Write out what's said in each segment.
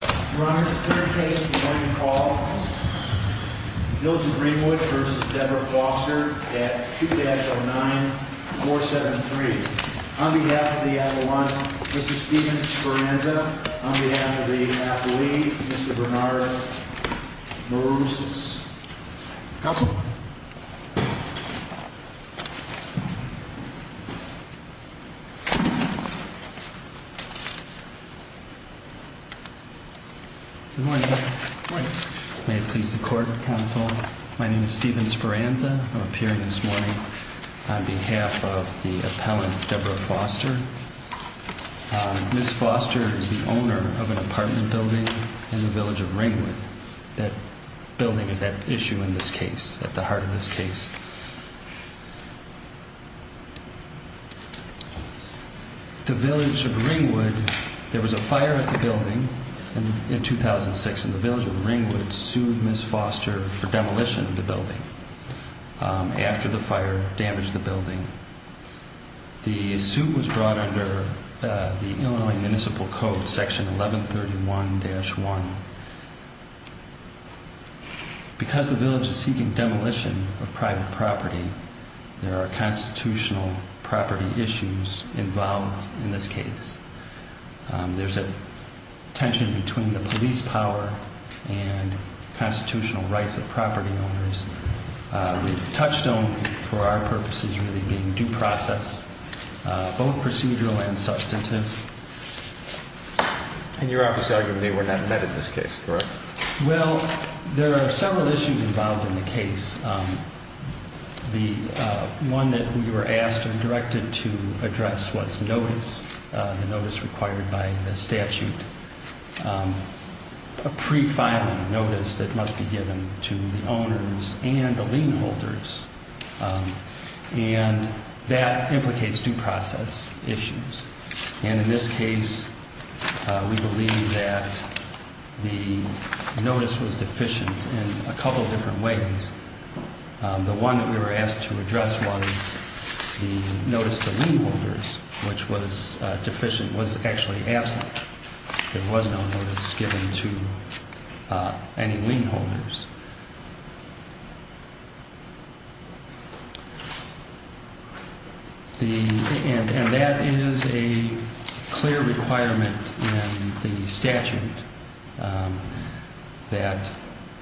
Your Honor, the current case of the morning call, Bill to Ringwood v. Deborah Foster at 2-09-473. On behalf of the Avalanche, Mr. Steven Speranza. On behalf of the athlete, Mr. Bernard Marousas. Counsel. Good morning. Good morning. May it please the court, counsel. My name is Steven Speranza. I'm appearing this morning on behalf of the appellant, Deborah Foster. Ms. Foster is the owner of an apartment building in the village of Ringwood. That building is at issue in this case, at the heart of this case. The village of Ringwood, there was a fire at the building in 2006, and the village of Ringwood sued Ms. Foster for demolition of the building. After the fire damaged the building, the suit was brought under the Illinois Municipal Code, section 1131-1. Because the village is seeking demolition of private property, there are constitutional property issues involved in this case. There's a tension between the police power and constitutional rights of property owners. The touchstone for our purpose is really being due process, both procedural and substantive. And you're obviously arguing they were not met in this case, correct? Well, there are several issues involved in the case. The one that we were asked and directed to address was notice, the notice required by the statute. A pre-filing notice that must be given to the owners and the lien holders, and that implicates due process issues. And in this case, we believe that the notice was deficient in a couple of different ways. The one that we were asked to address was the notice to lien holders, which was deficient, was actually absent. There was no notice given to any lien holders. And that is a clear requirement in the statute that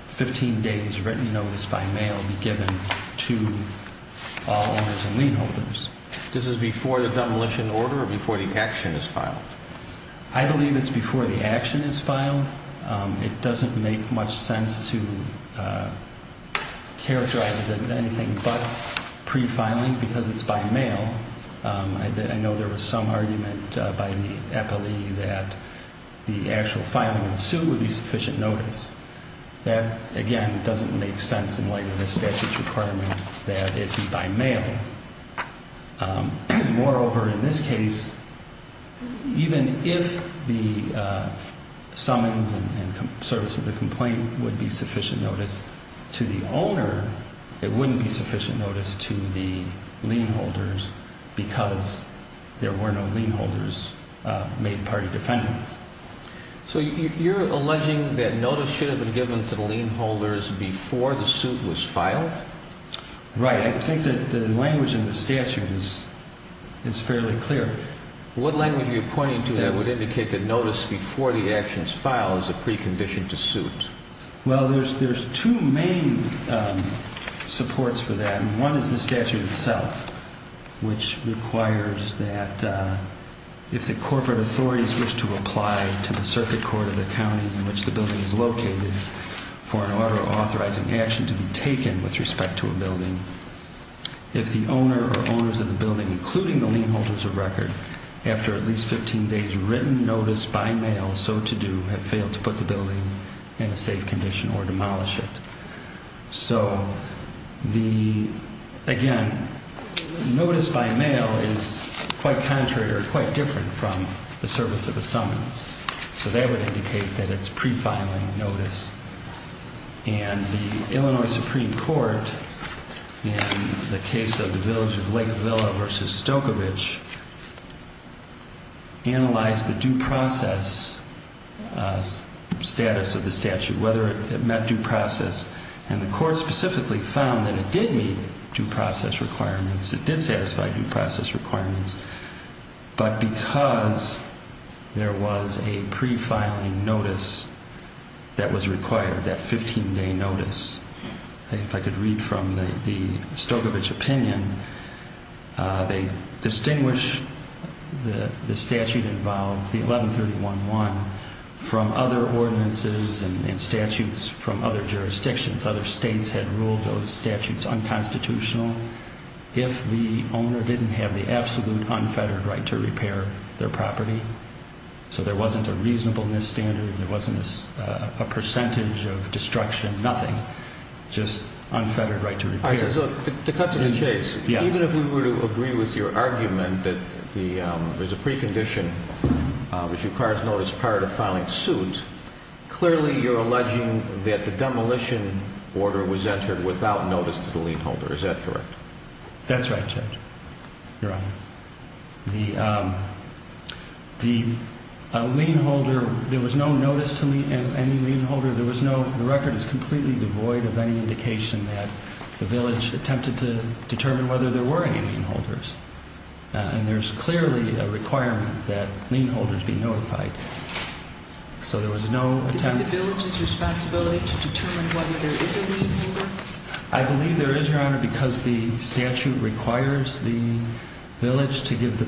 15 days written notice by mail be given to all owners and lien holders. This is before the demolition order or before the action is filed? I believe it's before the action is filed. It doesn't make much sense to characterize it as anything but pre-filing because it's by mail. I know there was some argument by the appellee that the actual filing in the suit would be sufficient notice. That, again, doesn't make sense in light of the statute's requirement that it be by mail. Moreover, in this case, even if the summons and service of the complaint would be sufficient notice to the owner, it wouldn't be sufficient notice to the lien holders because there were no lien holders made party defendants. So you're alleging that notice should have been given to the lien holders before the suit was filed? Right. I think that the language in the statute is fairly clear. What language are you pointing to that would indicate that notice before the action is filed is a precondition to suit? Well, there's two main supports for that. One is the statute itself, which requires that if the corporate authorities wish to apply to the circuit court of the county in which the building is located for an order of authorizing action to be taken with respect to a building, if the owner or owners of the building, including the lien holders of record, after at least 15 days' written notice by mail, so to do, have failed to put the building in a safe condition or demolish it. So, again, notice by mail is quite contrary or quite different from the service of the summons. So that would indicate that it's pre-filing notice. And the Illinois Supreme Court, in the case of the Village of Lakeville v. Stokovich, analyzed the due process status of the statute, whether it met due process. And the court specifically found that it did meet due process requirements. It did satisfy due process requirements. But because there was a pre-filing notice that was required, that 15-day notice, if I could read from the Stokovich opinion, they distinguish the statute involved, the 1131-1, from other ordinances and statutes from other jurisdictions. Other states had ruled those statutes unconstitutional. If the owner didn't have the absolute unfettered right to repair their property, so there wasn't a reasonableness standard, there wasn't a percentage of destruction, nothing, just unfettered right to repair. To cut to the chase, even if we were to agree with your argument that there's a precondition, which requires notice prior to filing suit, clearly you're alleging that the demolition order was entered without notice to the lien holder. Is that correct? That's right, Judge. Your Honor, the lien holder, there was no notice to any lien holder. There was no, the record is completely devoid of any indication that the village attempted to determine whether there were any lien holders. And there's clearly a requirement that lien holders be notified. So there was no attempt. Is it the village's responsibility to determine whether there is a lien holder? I believe there is, Your Honor, because the statute requires the village to give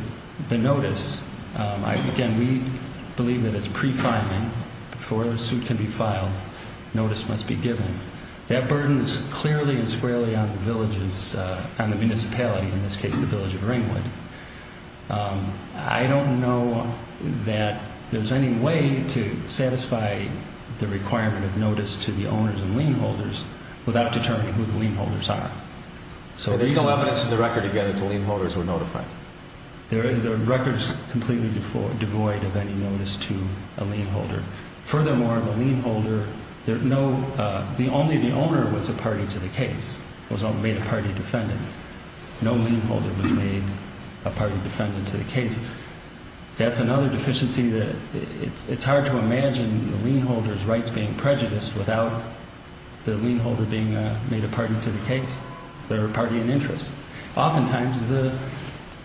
the notice. Again, we believe that it's pre-filing. Before the suit can be filed, notice must be given. That burden is clearly and squarely on the village's, on the municipality, in this case the village of Ringwood. I don't know that there's any way to satisfy the requirement of notice to the owners and lien holders without determining who the lien holders are. So there's no evidence in the record, again, that the lien holders were notified? The record is completely devoid of any notice to a lien holder. Furthermore, the lien holder, there's no, only the owner was a party to the case, was made a party defendant. No lien holder was made a party defendant to the case. That's another deficiency that it's hard to imagine the lien holder's rights being prejudiced without the lien holder being made a party to the case or a party in interest, oftentimes the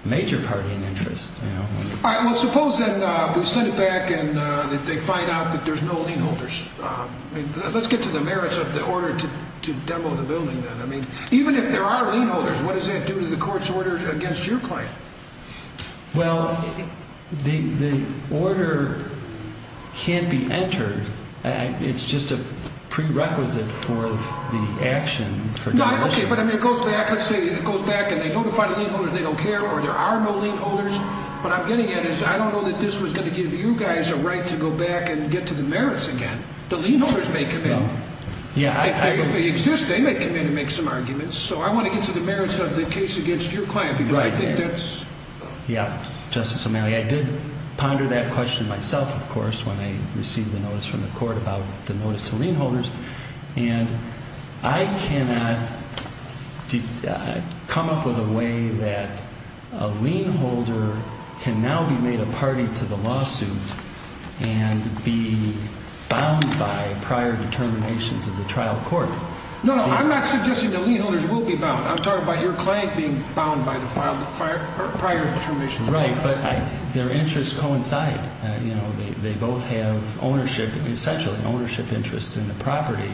major party in interest. All right, well, suppose then we send it back and they find out that there's no lien holders. Let's get to the merits of the order to demo the building then. I mean, even if there are lien holders, what does that do to the court's order against your claim? Well, the order can't be entered. It's just a prerequisite for the action. Okay, but it goes back, let's say it goes back and they notify the lien holders they don't care or there are no lien holders. What I'm getting at is I don't know that this was going to give you guys a right to go back and get to the merits again. The lien holders may come in. If they exist, they may come in and make some arguments. So I want to get to the merits of the case against your client because I think that's... And I cannot come up with a way that a lien holder can now be made a party to the lawsuit and be bound by prior determinations of the trial court. No, no, I'm not suggesting the lien holders will be bound. I'm talking about your client being bound by the prior determinations. Right, but their interests coincide. They both have ownership, essentially, ownership interests in the property.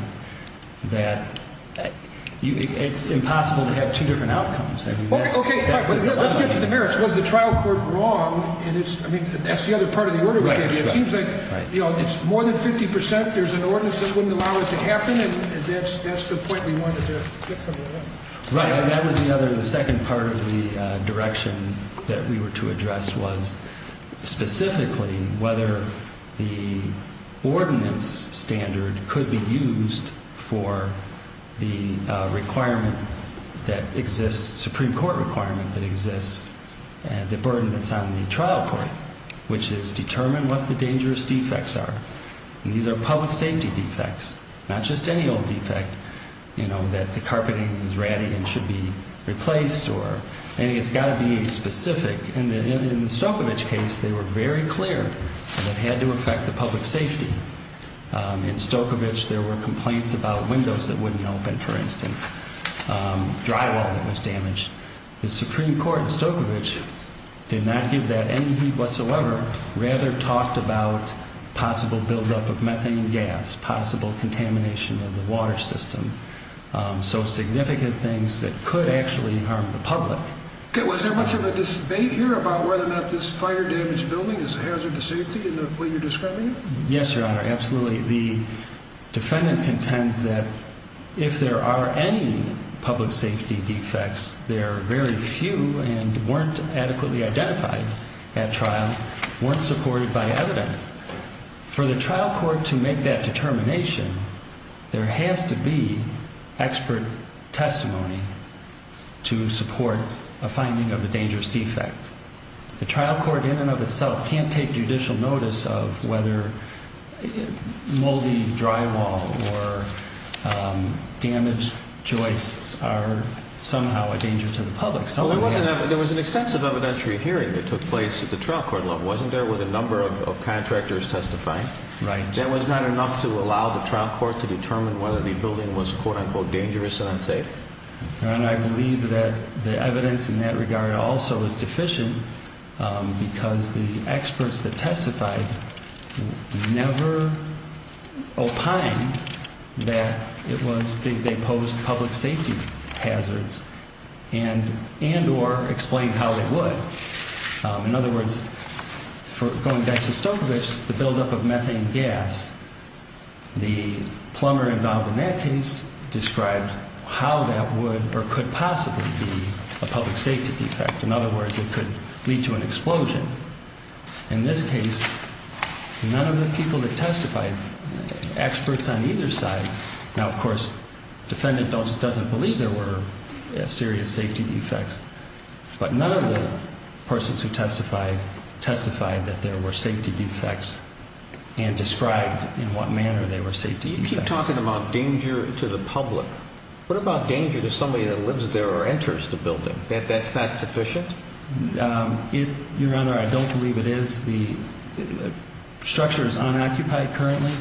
It's impossible to have two different outcomes. Okay, let's get to the merits. Was the trial court wrong? That's the other part of the order we gave you. It seems like it's more than 50%. There's an ordinance that wouldn't allow it to happen, and that's the point we wanted to get to. Right, and that was the other, the second part of the direction that we were to address was specifically whether the ordinance standard could be used for the requirement that exists, Supreme Court requirement that exists, the burden that's on the trial court, which is determine what the dangerous defects are. These are public safety defects, not just any old defect, you know, that the carpeting is ratty and should be replaced or anything. It's got to be specific. In the Stokovitch case, they were very clear that it had to affect the public safety. In Stokovitch, there were complaints about windows that wouldn't open, for instance, drywall that was damaged. The Supreme Court in Stokovitch did not give that any heed whatsoever, rather talked about possible buildup of methane gas, possible contamination of the water system, so significant things that could actually harm the public. Okay, was there much of a debate here about whether or not this fire-damaged building is a hazard to safety in the way you're describing it? Yes, Your Honor, absolutely. The defendant contends that if there are any public safety defects, there are very few and weren't adequately identified at trial, weren't supported by evidence. For the trial court to make that determination, there has to be expert testimony to support a finding of a dangerous defect. The trial court in and of itself can't take judicial notice of whether moldy drywall or damaged joists are somehow a danger to the public. There was an extensive evidentiary hearing that took place at the trial court level, wasn't there, with a number of contractors testifying? Right. That was not enough to allow the trial court to determine whether the building was quote-unquote dangerous and unsafe? Your Honor, I believe that the evidence in that regard also is deficient because the experts that testified never opined that they posed public safety hazards and or explained how they would. In other words, going back to Stokovitch, the buildup of methane gas, the plumber involved in that case described how that would or could possibly be a public safety defect. In other words, it could lead to an explosion. In this case, none of the people that testified, experts on either side. Now, of course, the defendant doesn't believe there were serious safety defects, but none of the persons who testified testified that there were safety defects and described in what manner they were safety defects. You keep talking about danger to the public. What about danger to somebody that lives there or enters the building? That's not sufficient? Your Honor, I don't believe it is. The structure is unoccupied currently,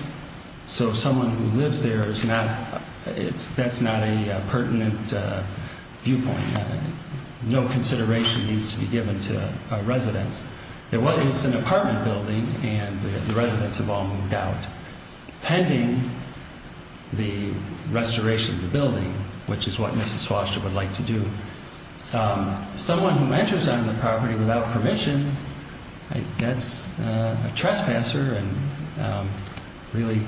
so someone who lives there, that's not a pertinent viewpoint. No consideration needs to be given to residents. It's an apartment building, and the residents have all moved out pending the restoration of the building, which is what Mrs. Foster would like to do. Someone who enters on the property without permission, that's a trespasser and really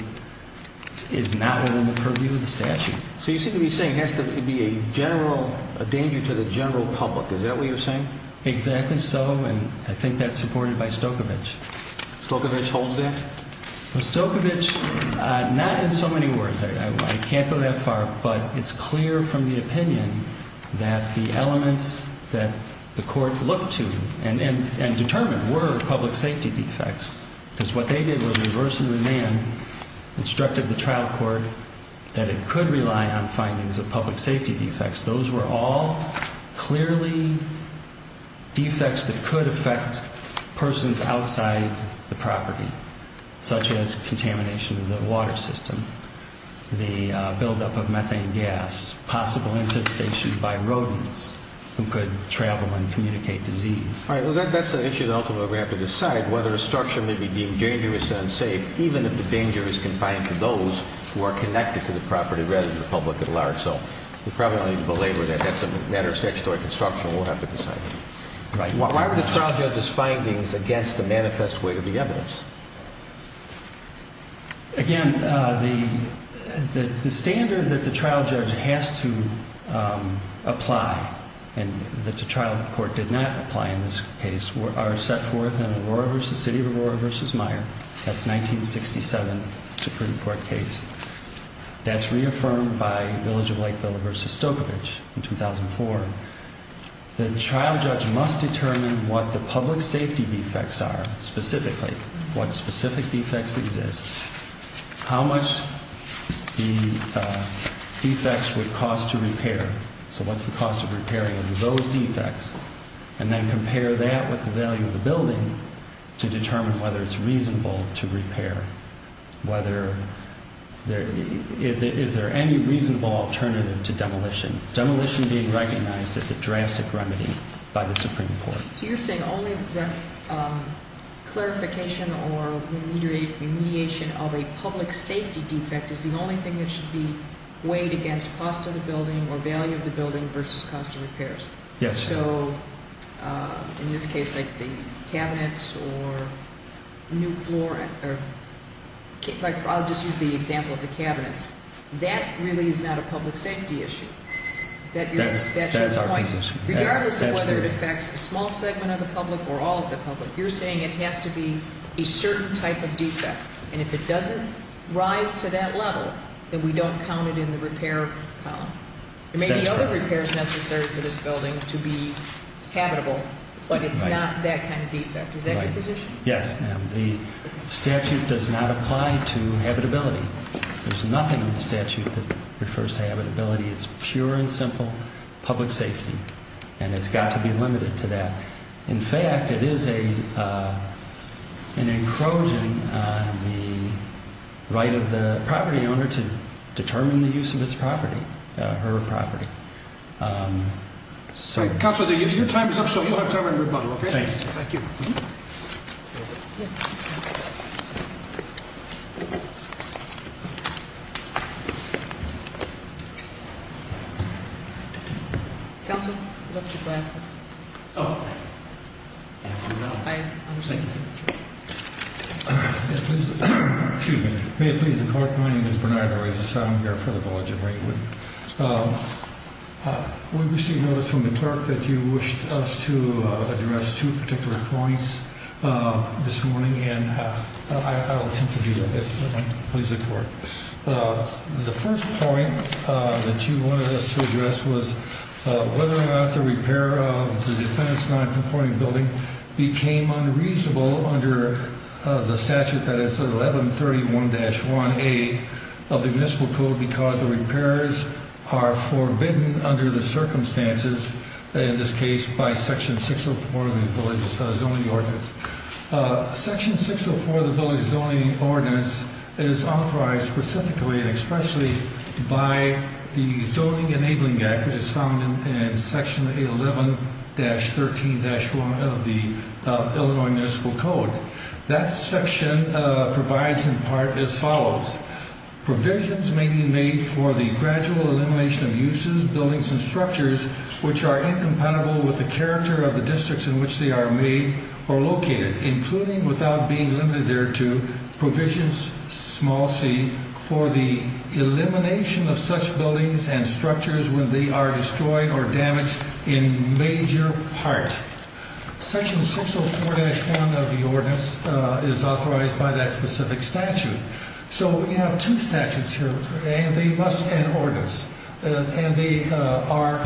is not within the purview of the statute. So you seem to be saying it has to be a general danger to the general public. Is that what you're saying? Exactly so, and I think that's supported by Stokovich. Stokovich holds that? Stokovich, not in so many words. I can't go that far, but it's clear from the opinion that the elements that the court looked to and determined were public safety defects because what they did was reverse the demand, instructed the trial court that it could rely on findings of public safety defects. Those were all clearly defects that could affect persons outside the property, such as contamination of the water system, the buildup of methane gas, possible infestation by rodents who could travel and communicate disease. All right, well, that's an issue that ultimately we have to decide, whether a structure may be deemed dangerous and unsafe, even if the danger is confined to those who are connected to the property rather than the public at large. So we probably don't need to belabor that. That's a matter of statutory construction. We'll have to decide. Why were the trial judge's findings against the manifest weight of the evidence? Again, the standard that the trial judge has to apply and that the trial court did not apply in this case are set forth in the city of Aurora v. Meyer. That's 1967 Supreme Court case. That's reaffirmed by Village of Lakeville v. Stokovich in 2004. The trial judge must determine what the public safety defects are specifically, what specific defects exist, how much the defects would cost to repair, so what's the cost of repairing those defects, and then compare that with the value of the building to determine whether it's reasonable to repair. Is there any reasonable alternative to demolition? Demolition being recognized as a drastic remedy by the Supreme Court. So you're saying only the clarification or remediation of a public safety defect is the only thing that should be weighed against cost of the building or value of the building versus cost of repairs? Yes. So in this case, like the cabinets or new floor, I'll just use the example of the cabinets. That really is not a public safety issue. That's our position. Regardless of whether it affects a small segment of the public or all of the public, you're saying it has to be a certain type of defect. And if it doesn't rise to that level, then we don't count it in the repair column. There may be other repairs necessary for this building to be habitable, but it's not that kind of defect. Is that your position? Yes. The statute does not apply to habitability. There's nothing in the statute that refers to habitability. It's pure and simple public safety, and it's got to be limited to that. In fact, it is an encroaching on the right of the property owner to determine the use of her property. Counselor, your time is up, so you don't have time to rebuttal. Thank you. Counselor, you left your glasses. Oh. I understand. Excuse me. May it please the court. My name is Bernardo Reyes. I'm here for the Village of Ringwood. We received notice from the clerk that you wished us to address two particular points this morning, and I'll attempt to do that. Please look forward. The first point that you wanted us to address was whether or not the repair of the defense nonconforming building became unreasonable under the statute that is 1131-1A of the municipal code because the repairs are forbidden under the circumstances, in this case, by Section 604 of the Village Zoning Ordinance. Section 604 of the Village Zoning Ordinance is authorized specifically and expressly by the Zoning Enabling Act, which is found in Section 11-13-1 of the Illinois Municipal Code. That section provides in part as follows. including without being limited thereto provisions small c for the elimination of such buildings and structures when they are destroyed or damaged in major part. Section 604-1 of the ordinance is authorized by that specific statute. So we have two statutes here, and they must, and ordinance, and they are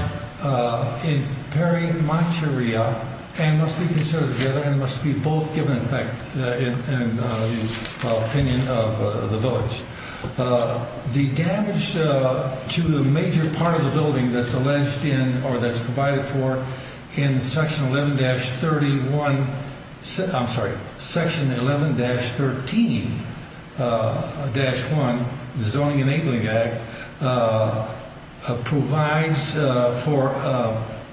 in peri materia and must be considered together and must be both given effect in the opinion of the village. The damage to a major part of the building that's alleged in or that's provided for in Section 11-31, I'm sorry, Section 11-13-1, the Zoning Enabling Act, provides for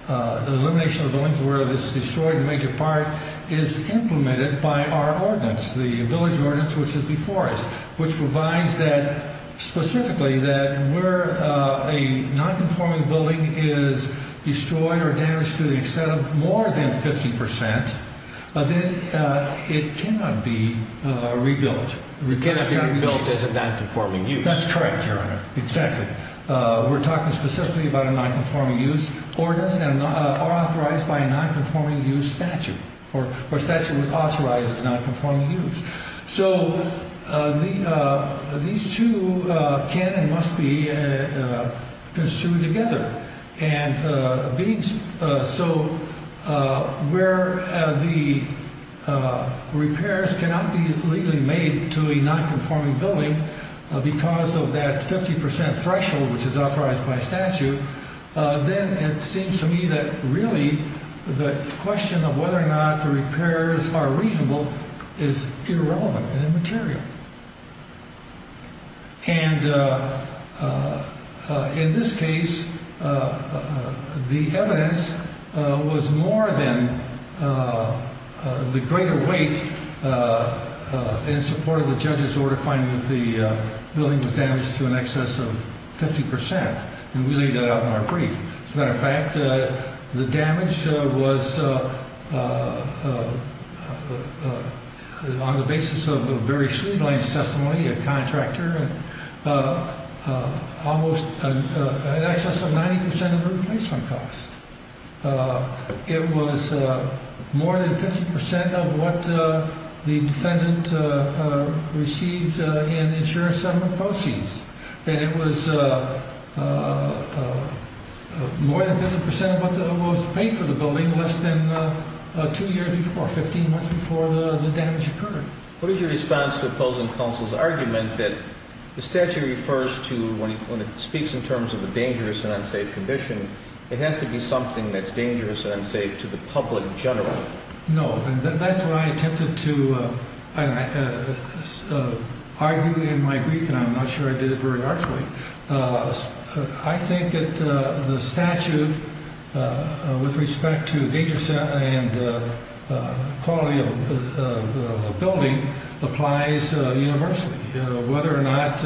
the elimination of buildings where it's destroyed in major part is implemented by our ordinance, the Village Ordinance, which is before us, which provides that specifically that where a nonconforming building is destroyed or damaged to the extent of more than 50 percent, it cannot be rebuilt. It cannot be rebuilt as a nonconforming use. That's correct, Your Honor. Exactly. We're talking specifically about a nonconforming use ordinance and are authorized by a nonconforming use statute or statute that authorizes nonconforming use. So these two can and must be construed together. So where the repairs cannot be legally made to a nonconforming building because of that 50 percent threshold, which is authorized by statute, then it seems to me that really the question of whether or not the repairs are reasonable is irrelevant and immaterial. And in this case, the evidence was more than the greater weight in support of the judge's order finding that the building was damaged to an excess of 50 percent. And we laid that out in our brief. As a matter of fact, the damage was on the basis of Barry Schliebling's testimony, a contractor, almost an excess of 90 percent of the replacement cost. It was more than 50 percent of what the defendant received in insurance settlement proceeds. And it was more than 50 percent of what was paid for the building less than two years before, 15 months before the damage occurred. What is your response to opposing counsel's argument that the statute refers to when it speaks in terms of a dangerous and unsafe condition, it has to be something that's dangerous and unsafe to the public in general? No. That's what I attempted to argue in my brief, and I'm not sure I did it very artfully. I think that the statute, with respect to danger and quality of the building, applies universally, whether or not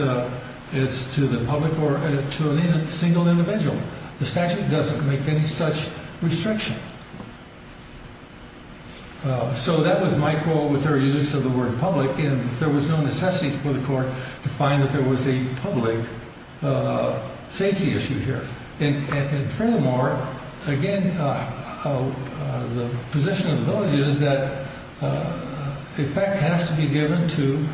it's to the public or to a single individual. The statute doesn't make any such restriction. So that was my quote with their use of the word public, and there was no necessity for the court to find that there was a public safety issue here. And furthermore, again, the position of the village is that effect has to be given to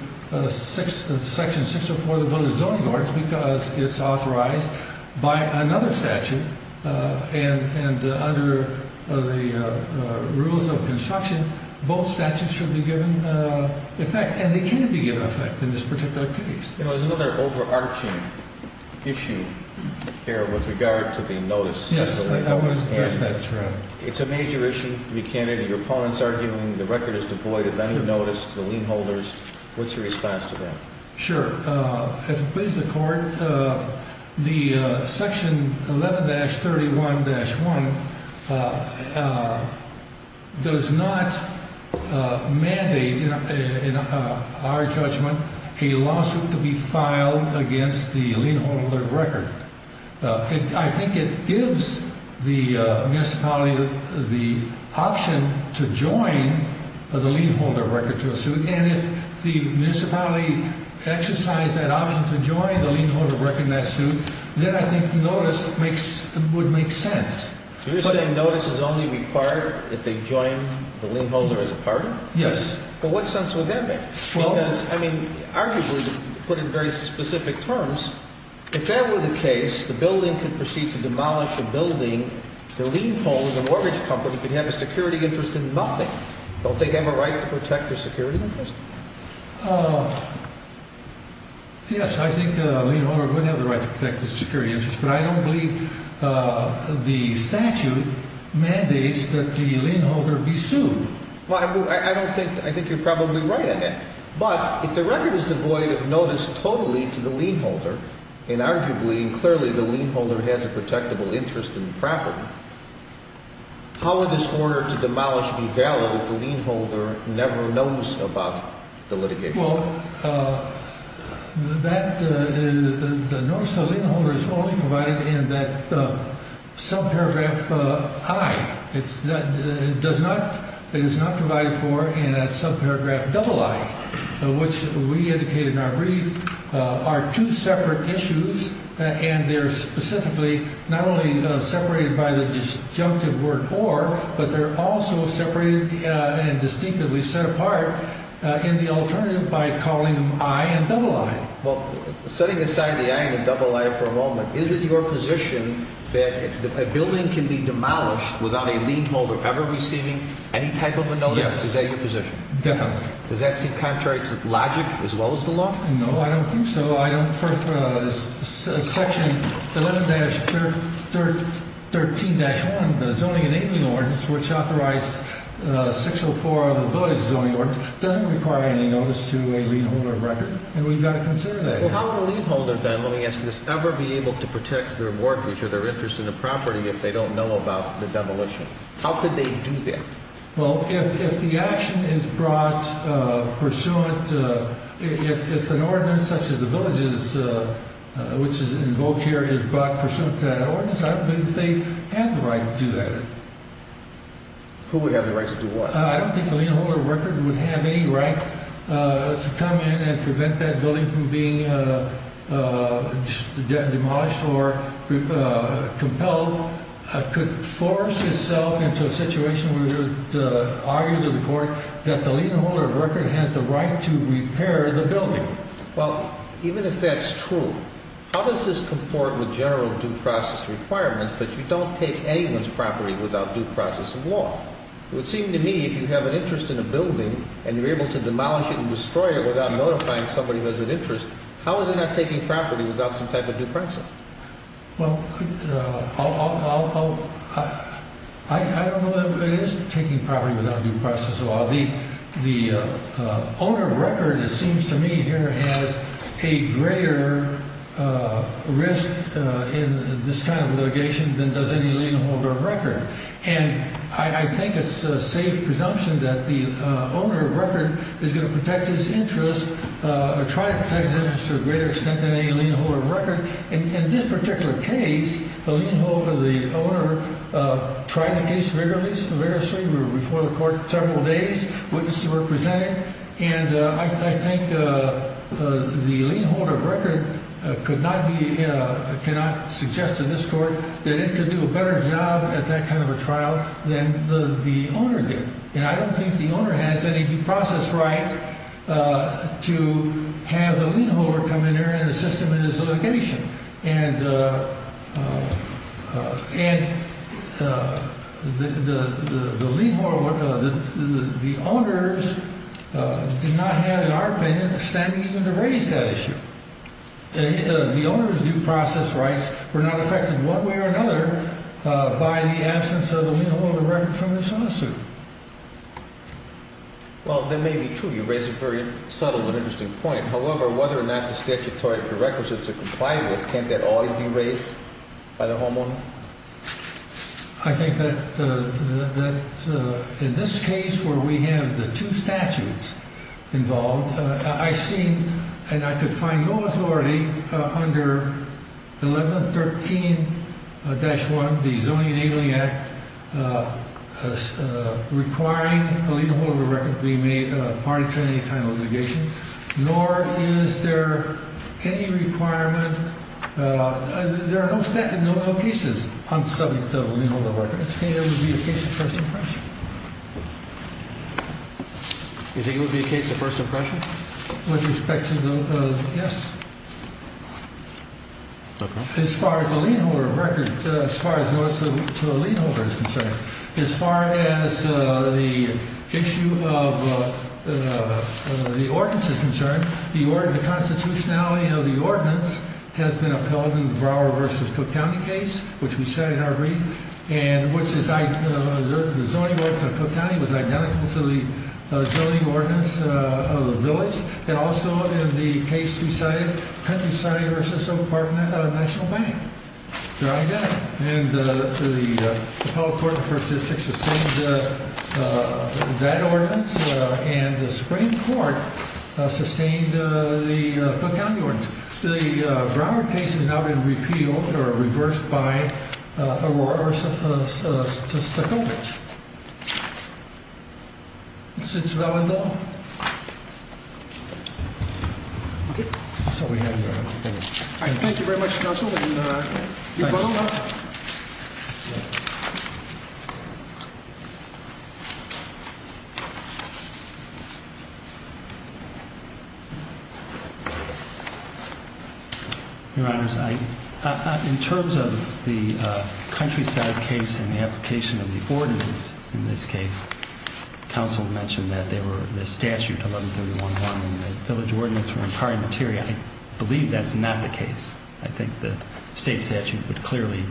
Section 604 of the zoning ordinance because it's authorized by another statute. And under the rules of construction, both statutes should be given effect. And they can be given effect in this particular case. There's another overarching issue here with regard to the notice. Yes, I want to address that, Your Honor. It's a major issue to be a candidate. Your opponent's arguing the record is devoid of any notice to the lien holders. What's your response to that? Sure. As it pleases the court, the Section 11-31-1 does not mandate, in our judgment, a lawsuit to be filed against the lien holder of record. I think it gives the municipality the option to join the lien holder of record to a suit. And if the municipality exercised that option to join the lien holder of record in that suit, then I think notice would make sense. You're saying notice is only required if they join the lien holder as a party? Yes. Well, what sense would that make? Because, I mean, arguably put in very specific terms, if that were the case, the building could proceed to demolish a building, the lien holder of the mortgage company could have a security interest in nothing. Don't they have a right to protect their security interest? Yes, I think the lien holder would have the right to protect his security interest, but I don't believe the statute mandates that the lien holder be sued. I think you're probably right on that. But if the record is devoid of notice totally to the lien holder, and arguably and clearly the lien holder has a protectable interest in the property, how would this order to demolish be valid if the lien holder never knows about the litigation? Well, the notice to the lien holder is only provided in that subparagraph I. It is not provided for in that subparagraph II, which we indicate in our brief are two separate issues, and they're specifically not only separated by the disjunctive word or, but they're also separated and distinctively set apart in the alternative by calling them I and II. Well, setting aside the I and II for a moment, is it your position that a building can be demolished without a lien holder ever receiving any type of a notice? Yes. Is that your position? Definitely. Does that seem contrary to logic as well as the law? No, I don't think so. Section 11-13-1, the Zoning and Aiming Ordinance, which authorized 604 of the Village Zoning Ordinance, doesn't require any notice to a lien holder of record, and we've got to consider that. Well, how would a lien holder then, let me ask you this, ever be able to protect their mortgage or their interest in the property if they don't know about the demolition? How could they do that? Well, if the action is brought pursuant, if an ordinance such as the village's, which is invoked here, is brought pursuant to that ordinance, I don't believe they have the right to do that. Who would have the right to do what? I don't think a lien holder of record would have any right to come in and prevent that building from being demolished or compelled. It could force itself into a situation where it would argue to the court that the lien holder of record has the right to repair the building. Well, even if that's true, how does this comport with general due process requirements that you don't take anyone's property without due process of law? It would seem to me if you have an interest in a building and you're able to demolish it and destroy it without notifying somebody who has an interest, how is it not taking property without some type of due process? Well, I don't know that it is taking property without due process of law. The owner of record, it seems to me, here has a greater risk in this kind of litigation than does any lien holder of record. And I think it's a safe presumption that the owner of record is going to protect his interest or try to protect his interest to a greater extent than any lien holder of record. In this particular case, the lien holder, the owner tried the case vigorously. We were before the court several days. Witnesses were presented. And I think the lien holder of record could not be, cannot suggest to this court that it could do a better job at that kind of a trial than the owner did. And I don't think the owner has any due process right to have the lien holder come in here and assist him in his litigation. And the lien holder, the owners did not have, in our opinion, a standing even to raise that issue. The owners' due process rights were not affected one way or another by the absence of a lien holder of record from this lawsuit. Well, that may be true. You raise a very subtle and interesting point. However, whether or not the statutory prerequisites are compliant with, can't that always be raised by the homeowner? I think that in this case where we have the two statutes involved, I've seen and I could find no authority under 1113-1, the Zoning and Ailing Act, requiring a lien holder of record to be made a part of any kind of litigation. Nor is there any requirement, there are no cases on the subject of a lien holder of record. It would be a case of first impression. You think it would be a case of first impression? With respect to the, yes. Okay. As far as the lien holder of record, as far as the lawsuit to a lien holder is concerned, as far as the issue of the ordinance is concerned, the constitutionality of the ordinance has been upheld in the Brower v. Cook County case, which we said in our brief, and which is the zoning work of Cook County was identical to the zoning ordinance of the village. It also, in the case we cited, Kent v. Oak Park National Bank. They're identical. And the Appellate Court in the First District sustained that ordinance, and the Supreme Court sustained the Cook County ordinance. The Brower case has now been repealed, or reversed, by Stokovitch. Is this well enough? Okay. That's all we have, Your Honor. Thank you. All right. Thank you very much, Counsel. Thank you. Thank you. Your Honors, in terms of the countryside case and the application of the ordinance in this case, counsel mentioned that the statute, 1131.1, and the village ordinance were in prior materia. I believe that's not the case. I think the state statute would clearly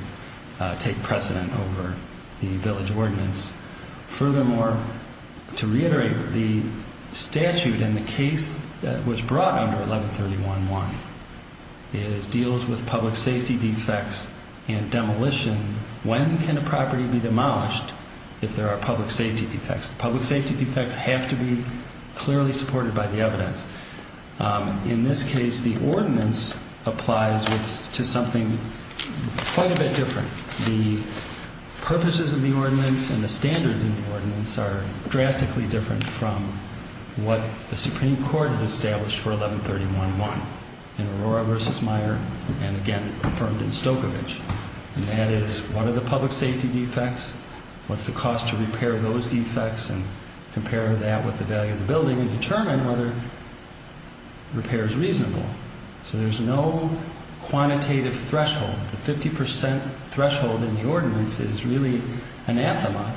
take precedent over the village ordinance. Furthermore, to reiterate, the statute in the case that was brought under 1131.1 deals with public safety defects and demolition. When can a property be demolished if there are public safety defects? Public safety defects have to be clearly supported by the evidence. In this case, the ordinance applies to something quite a bit different. The purposes of the ordinance and the standards in the ordinance are drastically different from what the Supreme Court has established for 1131.1, in Aurora v. Meyer and, again, affirmed in Stokovitch. And that is, what are the public safety defects, what's the cost to repair those defects, and compare that with the value of the building and determine whether repair is reasonable. So there's no quantitative threshold. The 50% threshold in the ordinance is really anathema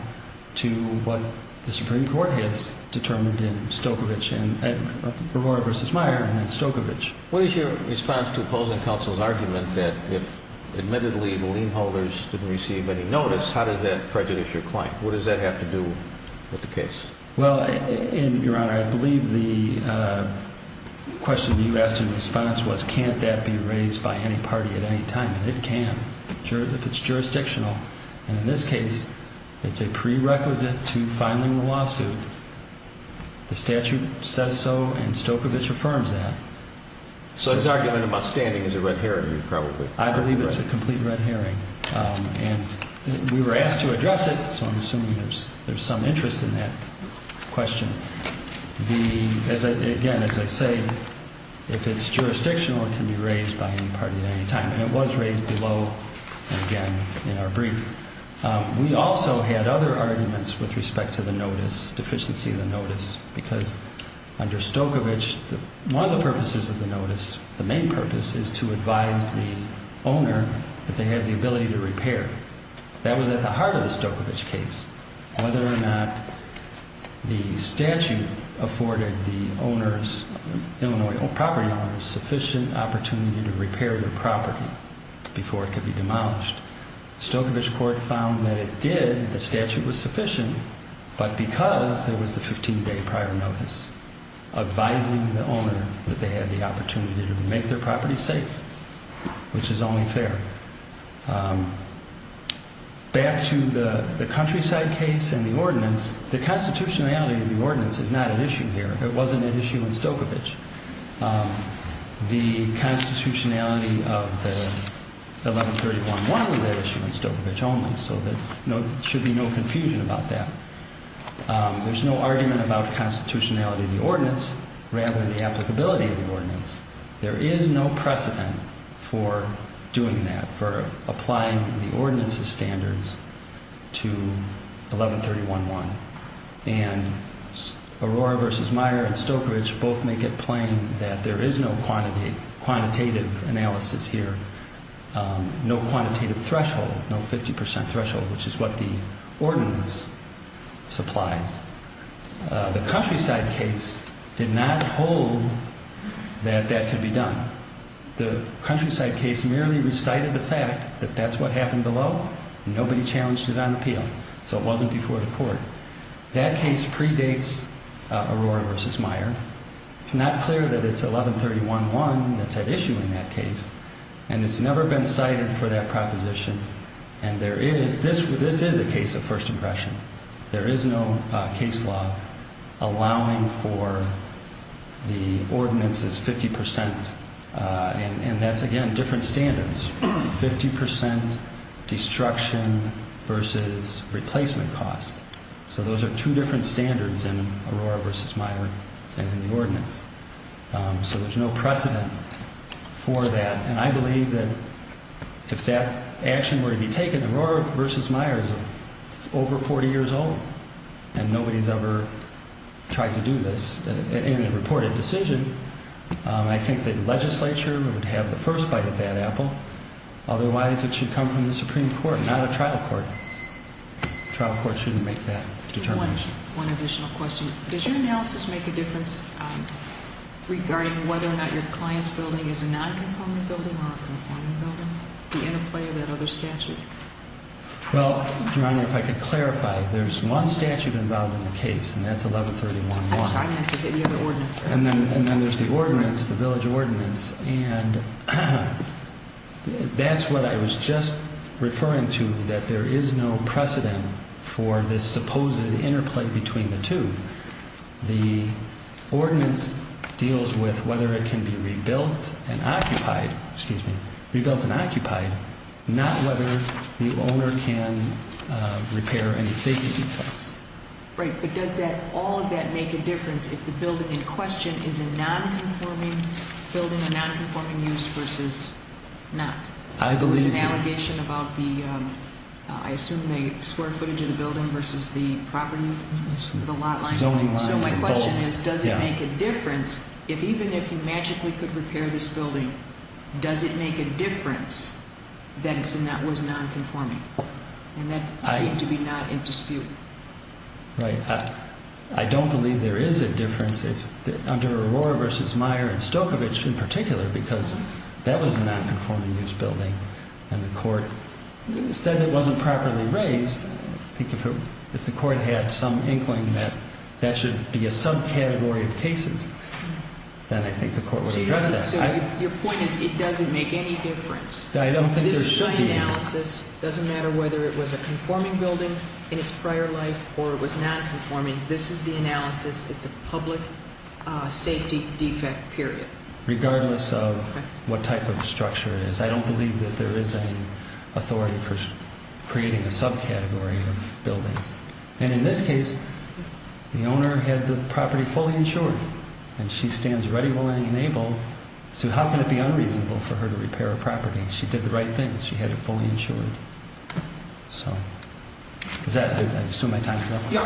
to what the Supreme Court has determined in Aurora v. Meyer and in Stokovitch. What is your response to opposing counsel's argument that if, admittedly, the lien holders didn't receive any notice, how does that prejudice your client? What does that have to do with the case? Well, Your Honor, I believe the question you asked in response was, can't that be raised by any party at any time? And it can, if it's jurisdictional. And in this case, it's a prerequisite to filing a lawsuit. The statute says so, and Stokovitch affirms that. So his argument about standing is a red herring, probably. I believe it's a complete red herring. And we were asked to address it, so I'm assuming there's some interest in that question. Again, as I say, if it's jurisdictional, it can be raised by any party at any time. And it was raised below, again, in our brief. We also had other arguments with respect to the notice, deficiency of the notice, because under Stokovitch, one of the purposes of the notice, the main purpose, is to advise the owner that they have the ability to repair. That was at the heart of the Stokovitch case. Whether or not the statute afforded the owner's, Illinois property owner, sufficient opportunity to repair their property before it could be demolished. Stokovitch court found that it did, the statute was sufficient, but because there was a 15-day prior notice, advising the owner that they had the opportunity to make their property safe, which is only fair. Back to the countryside case and the ordinance, the constitutionality of the ordinance is not at issue here. It wasn't at issue in Stokovitch. The constitutionality of the 1131-1 was at issue in Stokovitch only, so there should be no confusion about that. There's no argument about constitutionality of the ordinance, rather the applicability of the ordinance. There is no precedent for doing that, for applying the ordinance's standards to 1131-1. And Aurora v. Meyer and Stokovitch both make it plain that there is no quantitative analysis here. No quantitative threshold, no 50% threshold, which is what the ordinance supplies. The countryside case did not hold that that could be done. The countryside case merely recited the fact that that's what happened below. Nobody challenged it on appeal, so it wasn't before the court. That case predates Aurora v. Meyer. It's not clear that it's 1131-1 that's at issue in that case, and it's never been cited for that proposition. And this is a case of first impression. There is no case law allowing for the ordinance's 50%, and that's, again, different standards. 50% destruction versus replacement cost. So those are two different standards in Aurora v. Meyer and in the ordinance. So there's no precedent for that, and I believe that if that action were to be taken, Aurora v. Meyer is over 40 years old, and nobody's ever tried to do this in a reported decision. I think the legislature would have the first bite of that apple. Otherwise, it should come from the Supreme Court, not a trial court. A trial court shouldn't make that determination. One additional question. Does your analysis make a difference regarding whether or not your client's building is a non-conformant building or a conformant building? The interplay of that other statute? Well, Your Honor, if I could clarify, there's one statute involved in the case, and that's 1131-1. I'm sorry, I meant to say the other ordinance. And then there's the ordinance, the village ordinance, and that's what I was just referring to, that there is no precedent for this supposed interplay between the two. The ordinance deals with whether it can be rebuilt and occupied, not whether the owner can repair any safety defects. Right, but does all of that make a difference if the building in question is a non-conforming building, a non-conforming use versus not? I believe that. There was an allegation about the, I assume they square footage of the building versus the property, the lot line. Zoning lines involved. So my question is, does it make a difference if even if you magically could repair this building, does it make a difference that it was non-conforming? And that seemed to be not in dispute. Right. I don't believe there is a difference. It's under Aurora v. Meyer and Stokovich in particular because that was a non-conforming use building, and the court said it wasn't properly raised. I think if the court had some inkling that that should be a subcategory of cases, then I think the court would address that. So your point is it doesn't make any difference. I don't think there should be. It doesn't matter whether it was a conforming building in its prior life or it was non-conforming. This is the analysis. It's a public safety defect, period. Regardless of what type of structure it is, I don't believe that there is any authority for creating a subcategory of buildings. And in this case, the owner had the property fully insured, and she stands ready, willing, and able. So how can it be unreasonable for her to repair a property? She did the right thing. She had it fully insured. So does that do it? I assume my time is up. Yeah.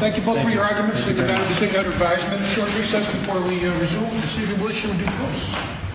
Thank you both for your arguments. We're going to take a short recess before we resume. See if you wish to do those.